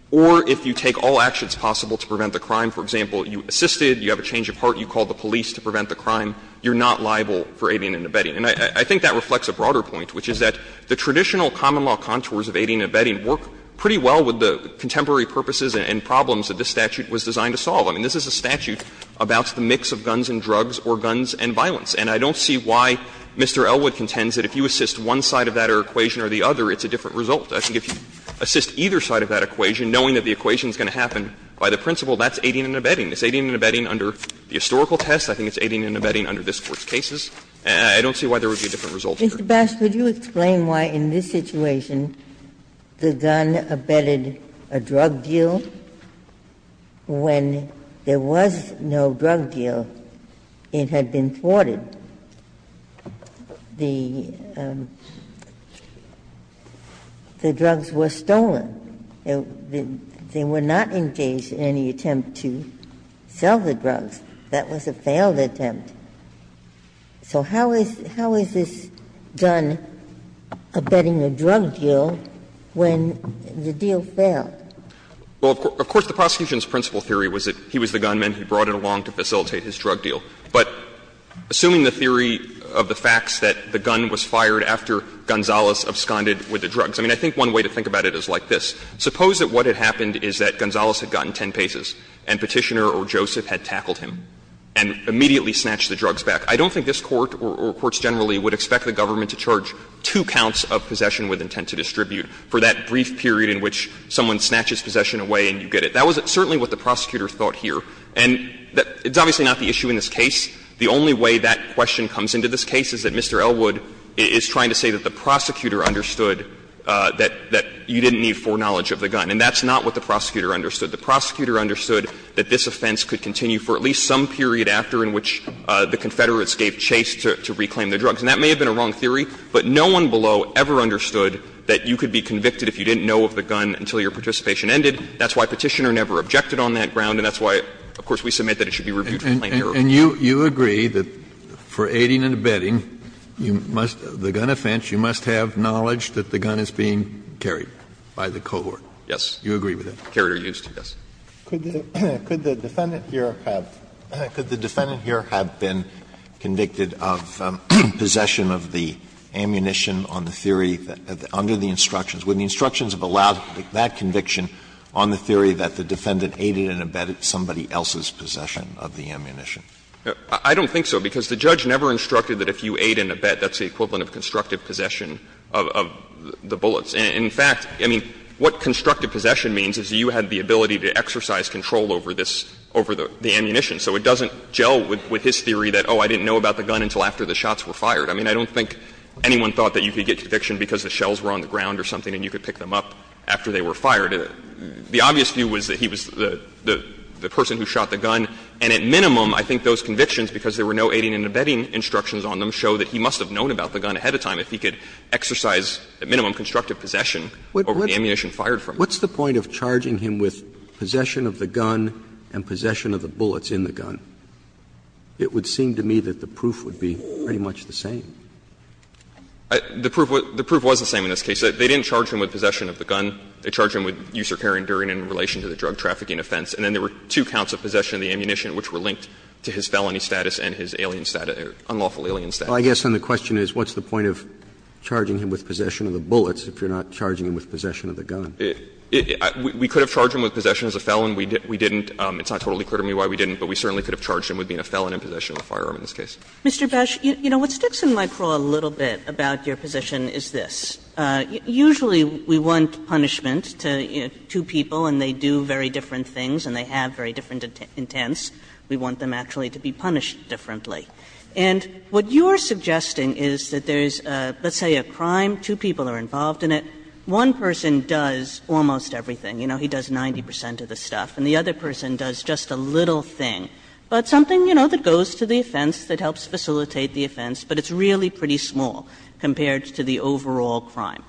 or if you take all actions possible to prevent the crime, for example, you assisted, you have a change of heart, you call the police to prevent the crime, you're not liable for aiding and abetting. And I think that reflects a broader point, which is that the traditional common law contours of aiding and abetting work pretty well with the contemporary purposes and problems that this statute was designed to solve. I mean, this is a statute about the mix of guns and drugs or guns and violence. And I don't see why Mr. Elwood contends that if you assist one side of that equation or the other, it's a different result. I think if you assist either side of that equation, knowing that the equation is going to happen by the principle that's aiding and abetting. It's aiding and abetting under the historical test. I think it's aiding and abetting under this Court's cases. And I don't see why there would be a different result here. Ginsburg. Mr. Bash, would you explain why in this situation the gun abetted a drug deal when there was no drug deal it had been thwarted? The drugs were stolen. They were not engaged in any attempt to sell the drugs. That was a failed attempt. So how is this gun abetting a drug deal when the deal failed? Well, of course, the prosecution's principle theory was that he was the gunman. He brought it along to facilitate his drug deal. But assuming the theory of the facts that the gun was fired after Gonzales absconded with the drugs, I mean, I think one way to think about it is like this. Suppose that what had happened is that Gonzales had gotten 10 paces and Petitioner or Joseph had tackled him and immediately snatched the drugs back. I don't think this Court or courts generally would expect the government to charge two counts of possession with intent to distribute for that brief period in which someone snatches possession away and you get it. That was certainly what the prosecutor thought here. And it's obviously not the issue in this case. The only way that question comes into this case is that Mr. Elwood is trying to say that the prosecutor understood that you didn't need foreknowledge of the gun. And that's not what the prosecutor understood. The prosecutor understood that this offense could continue for at least some period after in which the Confederates gave chase to reclaim the drugs. And that may have been a wrong theory, but no one below ever understood that you could be convicted if you didn't know of the gun until your participation ended. That's why Petitioner never objected on that ground. And that's why, of course, we submit that it should be reviewed for plain error. Alito, you agree that for aiding and abetting, you must the gun offense, you must have knowledge that the gun is being carried by the cohort. Yes. You agree with that? Carried or used, yes. Alito, could the defendant here have been convicted of possession of the ammunition on the theory under the instructions? Would the instructions have allowed that conviction on the theory that the defendant aided and abetted somebody else's possession of the ammunition? I don't think so, because the judge never instructed that if you aid and abet, that's the equivalent of constructive possession of the bullets. In fact, I mean, what constructive possession means is you had the ability to exercise control over this, over the ammunition. So it doesn't gel with his theory that, oh, I didn't know about the gun until after the shots were fired. I mean, I don't think anyone thought that you could get conviction because the shells were on the ground or something and you could pick them up after they were fired. The obvious view was that he was the person who shot the gun, and at minimum, I think those convictions, because there were no aiding and abetting instructions on them, show that he must have known about the gun ahead of time if he could exercise at minimum constructive possession over the ammunition fired from him. What's the point of charging him with possession of the gun and possession of the bullets in the gun? It would seem to me that the proof would be pretty much the same. The proof was the same in this case. They didn't charge him with possession of the gun. They charged him with usurpary enduring in relation to the drug trafficking offense. And then there were two counts of possession of the ammunition which were linked to his felony status and his alien status, unlawful alien status. Well, I guess then the question is what's the point of charging him with possession of the bullets if you're not charging him with possession of the gun? We could have charged him with possession as a felon. We didn't. It's not totally clear to me why we didn't, but we certainly could have charged him with being a felon in possession of a firearm in this case. Mr. Bash, you know, what sticks in my crawl a little bit about your position is this. Usually we want punishment to two people and they do very different things and they have very different intents. We want them actually to be punished differently. And what you're suggesting is that there's, let's say, a crime, two people are involved in it. One person does almost everything. You know, he does 90 percent of the stuff. And the other person does just a little thing. But something, you know, that goes to the offense, that helps facilitate the offense, but it's really pretty small compared to the overall crime.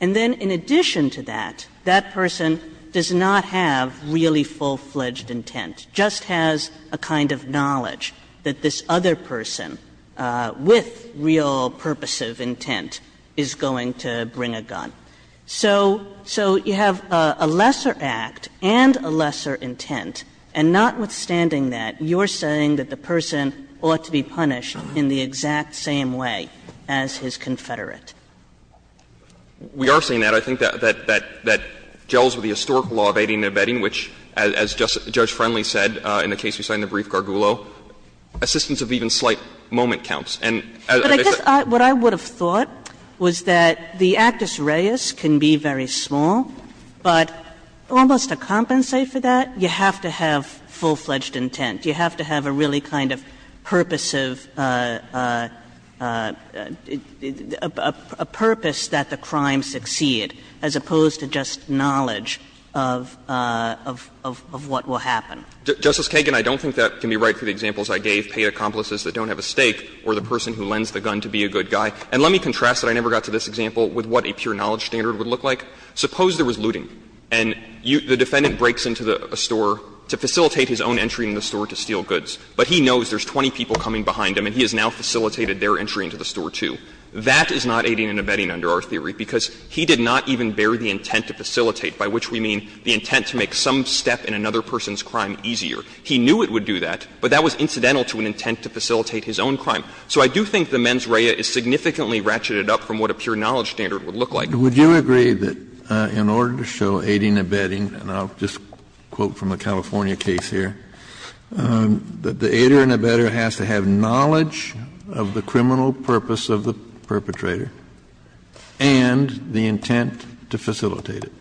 And then in addition to that, that person does not have really full-fledged intent, just has a kind of knowledge that this other person with real purposive intent is going to bring a gun. So you have a lesser act and a lesser intent, and notwithstanding that, you're saying that the person ought to be punished in the exact same way as his confederate. We are saying that. I think that gels with the historical law of aiding and abetting, which, as Judge Friendly said in the case we saw in the brief, Gargulo, assistance of even slight moment counts. And as I said, I think that's what I would have thought was that the actus reus can be very small, but almost to compensate for that, you have to have full-fledged intent. You have to have a really kind of purposive – a purpose that the crime succeed as opposed to just knowledge of what will happen. Justice Kagan, I don't think that can be right for the examples I gave, paid accomplices that don't have a stake or the person who lends the gun to be a good guy. And let me contrast that I never got to this example with what a pure knowledge standard would look like. Suppose there was looting and the defendant breaks into a store to facilitate his own entry in the store to steal goods, but he knows there's 20 people coming behind him and he has now facilitated their entry into the store, too. That is not aiding and abetting under our theory, because he did not even bear the intent to facilitate, by which we mean the intent to make some step in another person's crime easier. He knew it would do that, but that was incidental to an intent to facilitate his own crime. So I do think the mens rea is significantly ratcheted up from what a pure knowledge standard would look like. Kennedy, would you agree that in order to show aiding and abetting, and I'll just quote from a California case here, that the aider and abetter has to have knowledge of the criminal purpose of the perpetrator and the intent to facilitate it?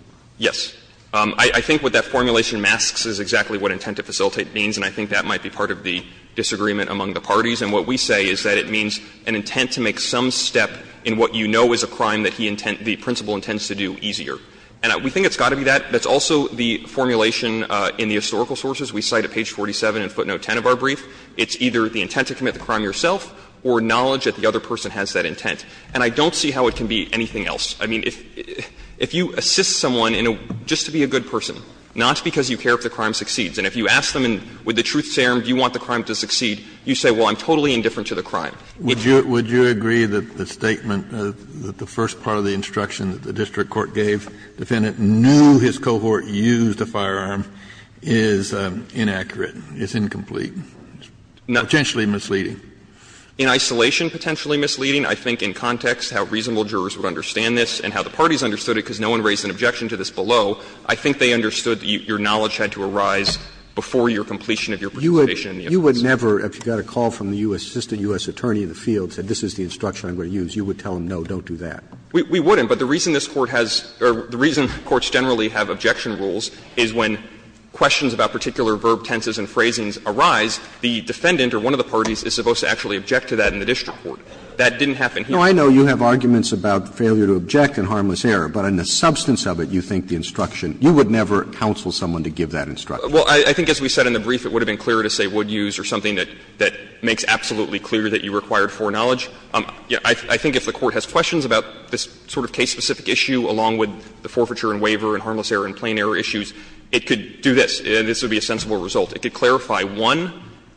I think what that formulation masks is exactly what intent to facilitate means, and I think that might be part of the disagreement among the parties. And what we say is that it means an intent to make some step in what you know is a crime that he intent the principal intends to do easier. And we think it's got to be that. That's also the formulation in the historical sources. We cite at page 47 in footnote 10 of our brief. It's either the intent to commit the crime yourself or knowledge that the other person has that intent. And I don't see how it can be anything else. I mean, if you assist someone in a – just to be a good person, not because you care if the crime succeeds, and if you ask them with the truth serum, do you want the crime to succeed, you say, well, I'm totally indifferent to the crime. Kennedy, would you agree that the statement, that the first part of the instruction that the district court gave the defendant, knew his cohort used a firearm, is inaccurate, is incomplete, potentially misleading? In isolation, potentially misleading. I think in context, how reasonable jurors would understand this and how the parties understood it, because no one raised an objection to this below, I think they understood that your knowledge had to arise before your completion of your participation in the investigation. Roberts, you would never, if you got a call from the U.S. assistant U.S. attorney in the field, said this is the instruction I'm going to use, you would tell them, no, don't do that. We wouldn't. But the reason this Court has or the reason courts generally have objection rules is when questions about particular verb tenses and phrasings arise, the defendant or one of the parties is supposed to actually object to that in the district court. That didn't happen here. No, I know you have arguments about failure to object and harmless error, but in the substance of it, you think the instruction, you would never counsel someone to give that instruction. Well, I think as we said in the brief, it would have been clearer to say would use or something that makes absolutely clear that you required foreknowledge. I think if the Court has questions about this sort of case-specific issue, along with the forfeiture and waiver and harmless error and plain error issues, it could do this. This would be a sensible result. It could clarify, one,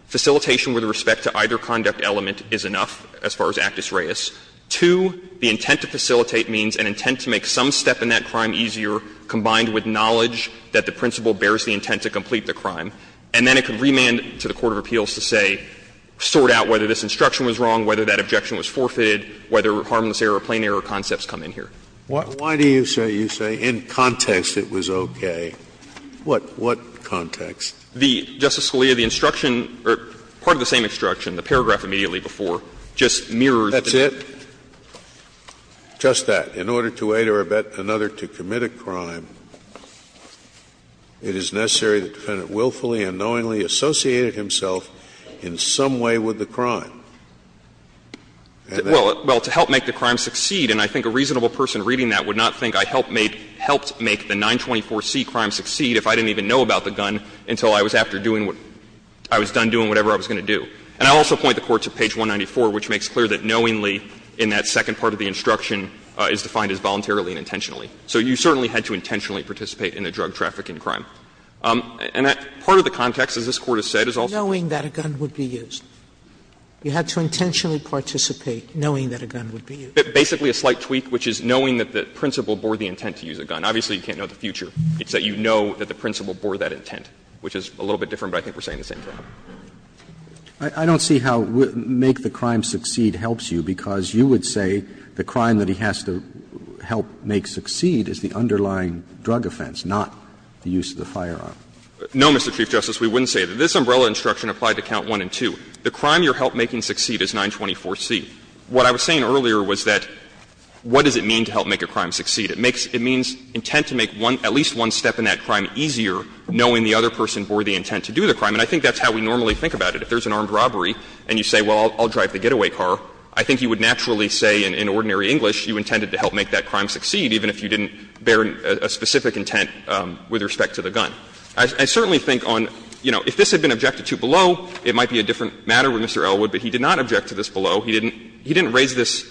facilitation with respect to either conduct element is enough as far as actus reus. Two, the intent to facilitate means an intent to make some step in that crime easier combined with knowledge that the principal bears the intent to complete the crime. And then it could remand to the court of appeals to say, sort out whether this instruction was wrong, whether that objection was forfeited, whether harmless error or plain error concepts come in here. Why do you say, you say, in context it was okay? What context? The, Justice Scalia, the instruction, or part of the same instruction, the paragraph immediately before, just mirrors that. That's it? Just that. In order to aid or abet another to commit a crime, it is necessary that the defendant willfully and knowingly associated himself in some way with the crime. Well, to help make the crime succeed, and I think a reasonable person reading that would not think I helped make the 924C crime succeed if I didn't even know about the gun until I was after doing what – I was done doing whatever I was going to do. And I also point the Court to page 194, which makes clear that knowingly in that second part of the instruction is defined as voluntarily and intentionally. So you certainly had to intentionally participate in a drug trafficking crime. And that part of the context, as this Court has said, is also the context of the instruction. Sotomayor, I'm sorry, but I'm not saying that a gun would be used. You had to intentionally participate knowing that a gun would be used. Basically a slight tweak, which is knowing that the principal bore the intent to use a gun. Obviously, you can't know the future. It's that you know that the principal bore that intent, which is a little bit different, but I think we're saying the same thing. I don't see how make the crime succeed helps you, because you would say the crime that he has to help make succeed is the underlying drug offense, not the use of the firearm. No, Mr. Chief Justice, we wouldn't say that. This umbrella instruction applied to count 1 and 2. The crime you're help making succeed is 924C. What I was saying earlier was that what does it mean to help make a crime succeed? It makes — it means intent to make one — at least one step in that crime easier knowing the other person bore the intent to do the crime. And I think that's how we normally think about it. If there's an armed robbery and you say, well, I'll drive the getaway car, I think you would naturally say in ordinary English you intended to help make that crime succeed, even if you didn't bear a specific intent with respect to the gun. I certainly think on, you know, if this had been objected to below, it might be a different matter with Mr. Elwood, but he did not object to this below. He didn't raise this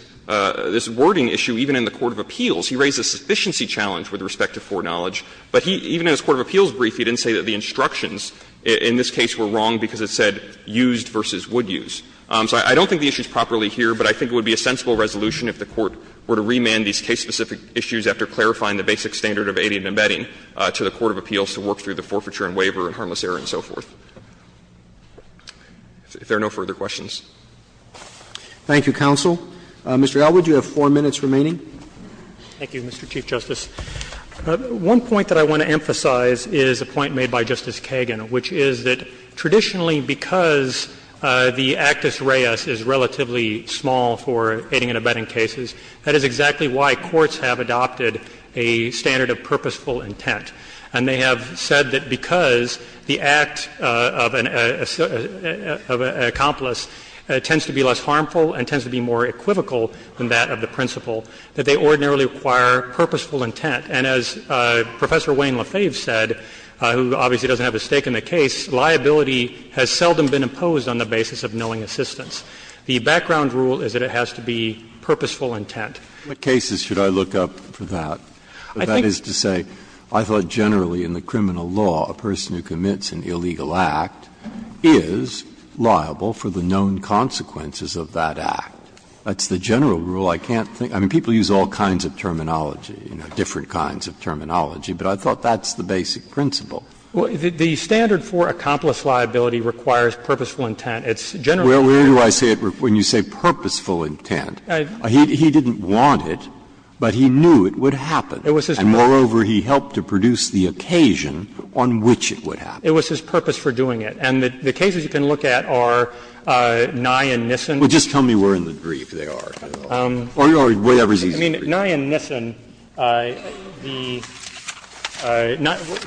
wording issue even in the court of appeals. He raised a sufficiency challenge with respect to foreknowledge. But he — even in his court of appeals brief, he didn't say that the instructions in this case were wrong because it said used versus would use. So I don't think the issue is properly here, but I think it would be a sensible resolution if the Court were to remand these case-specific issues after clarifying the basic standard of aiding and abetting to the court of appeals to work through the forfeiture and waiver and harmless error and so forth. If there are no further questions. Thank you, counsel. Mr. Elwood, you have four minutes remaining. Thank you, Mr. Chief Justice. One point that I want to emphasize is a point made by Justice Kagan, which is that traditionally because the actus reus is relatively small for aiding and abetting cases, that is exactly why courts have adopted a standard of purposeful intent. And they have said that because the act of an accomplice tends to be less harmful and tends to be more equivocal than that of the principal, that they ordinarily require purposeful intent. And as Professor Wayne Lefebvre said, who obviously doesn't have a stake in the case, liability has seldom been imposed on the basis of knowing assistance. The background rule is that it has to be purposeful intent. Breyer, what cases should I look up for that? That is to say, I thought generally in the criminal law a person who commits an illegal act is liable for the known consequences of that act. That's the general rule. I can't think of any other rule. I mean, people use all kinds of terminology, you know, different kinds of terminology, but I thought that's the basic principle. The standard for accomplice liability requires purposeful intent. It's generally true. Breyer, where do I say it when you say purposeful intent? He didn't want it, but he knew it would happen. And moreover, he helped to produce the occasion on which it would happen. It was his purpose for doing it. And the cases you can look at are Nye and Nissen. Well, just tell me where in the brief they are. Or whatever's easy to read. I mean, Nye and Nissen, the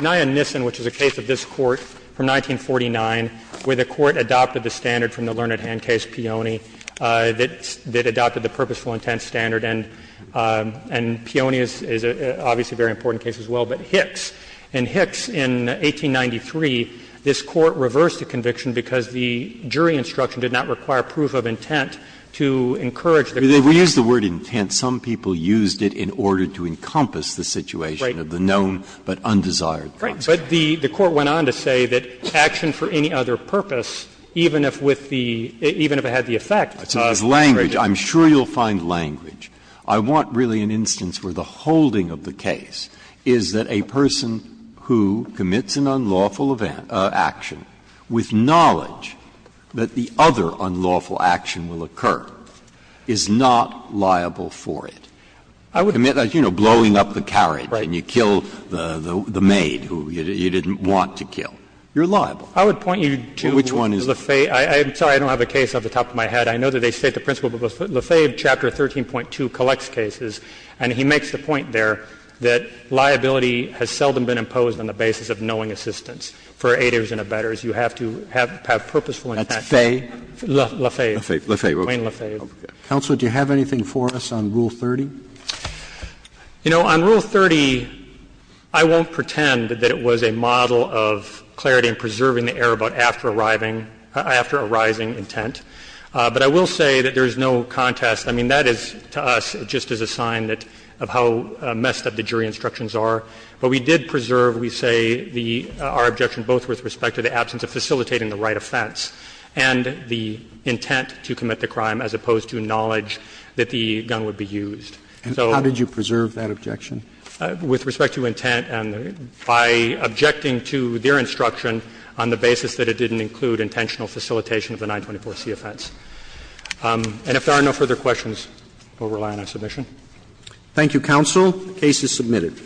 Nye and Nissen, which is a case of this Court from 1949 where the Court adopted the standard from the Learned Hand case, Peone, that adopted the purposeful intent standard. And Peone is obviously a very important case as well. But Hicks. In Hicks, in 1893, this Court reversed the conviction because the jury instruction did not require proof of intent to encourage the conviction. Breyer, we used the word intent. Some people used it in order to encompass the situation of the known but undesired consequence. Right. But the Court went on to say that action for any other purpose, even if with the – even if it had the effect of the conviction. I'm sure you'll find language. I want, really, an instance where the holding of the case is that a person who commits an unlawful action with knowledge that the other unlawful action will occur is not liable for it. I would admit that, you know, blowing up the carriage and you kill the maid who was supposed to kill you, you didn't want to kill, you're liable. I would point you to Lefebvre. I'm sorry, I don't have a case off the top of my head. I know that they state the principle, but Lefebvre, Chapter 13.2, collects cases, and he makes the point there that liability has seldom been imposed on the basis of knowing assistance. For aiders and abettors, you have to have purposeful intent. That's Fay? Lefebvre. Lefebvre. Queen Lefebvre. Counsel, do you have anything for us on Rule 30? You know, on Rule 30, I won't pretend that it was a model of clarity and preserving the error about after-arriving, after-arising intent. But I will say that there is no contest. I mean, that is, to us, just as a sign that of how messed up the jury instructions are. But we did preserve, we say, the — our objection both with respect to the absence of facilitating the right offense and the intent to commit the crime as opposed to knowledge that the gun would be used. And how did you preserve that objection? With respect to intent and by objecting to their instruction on the basis that it didn't include intentional facilitation of the 924c offense. And if there are no further questions, we will rely on our submission. Thank you, counsel. The case is submitted.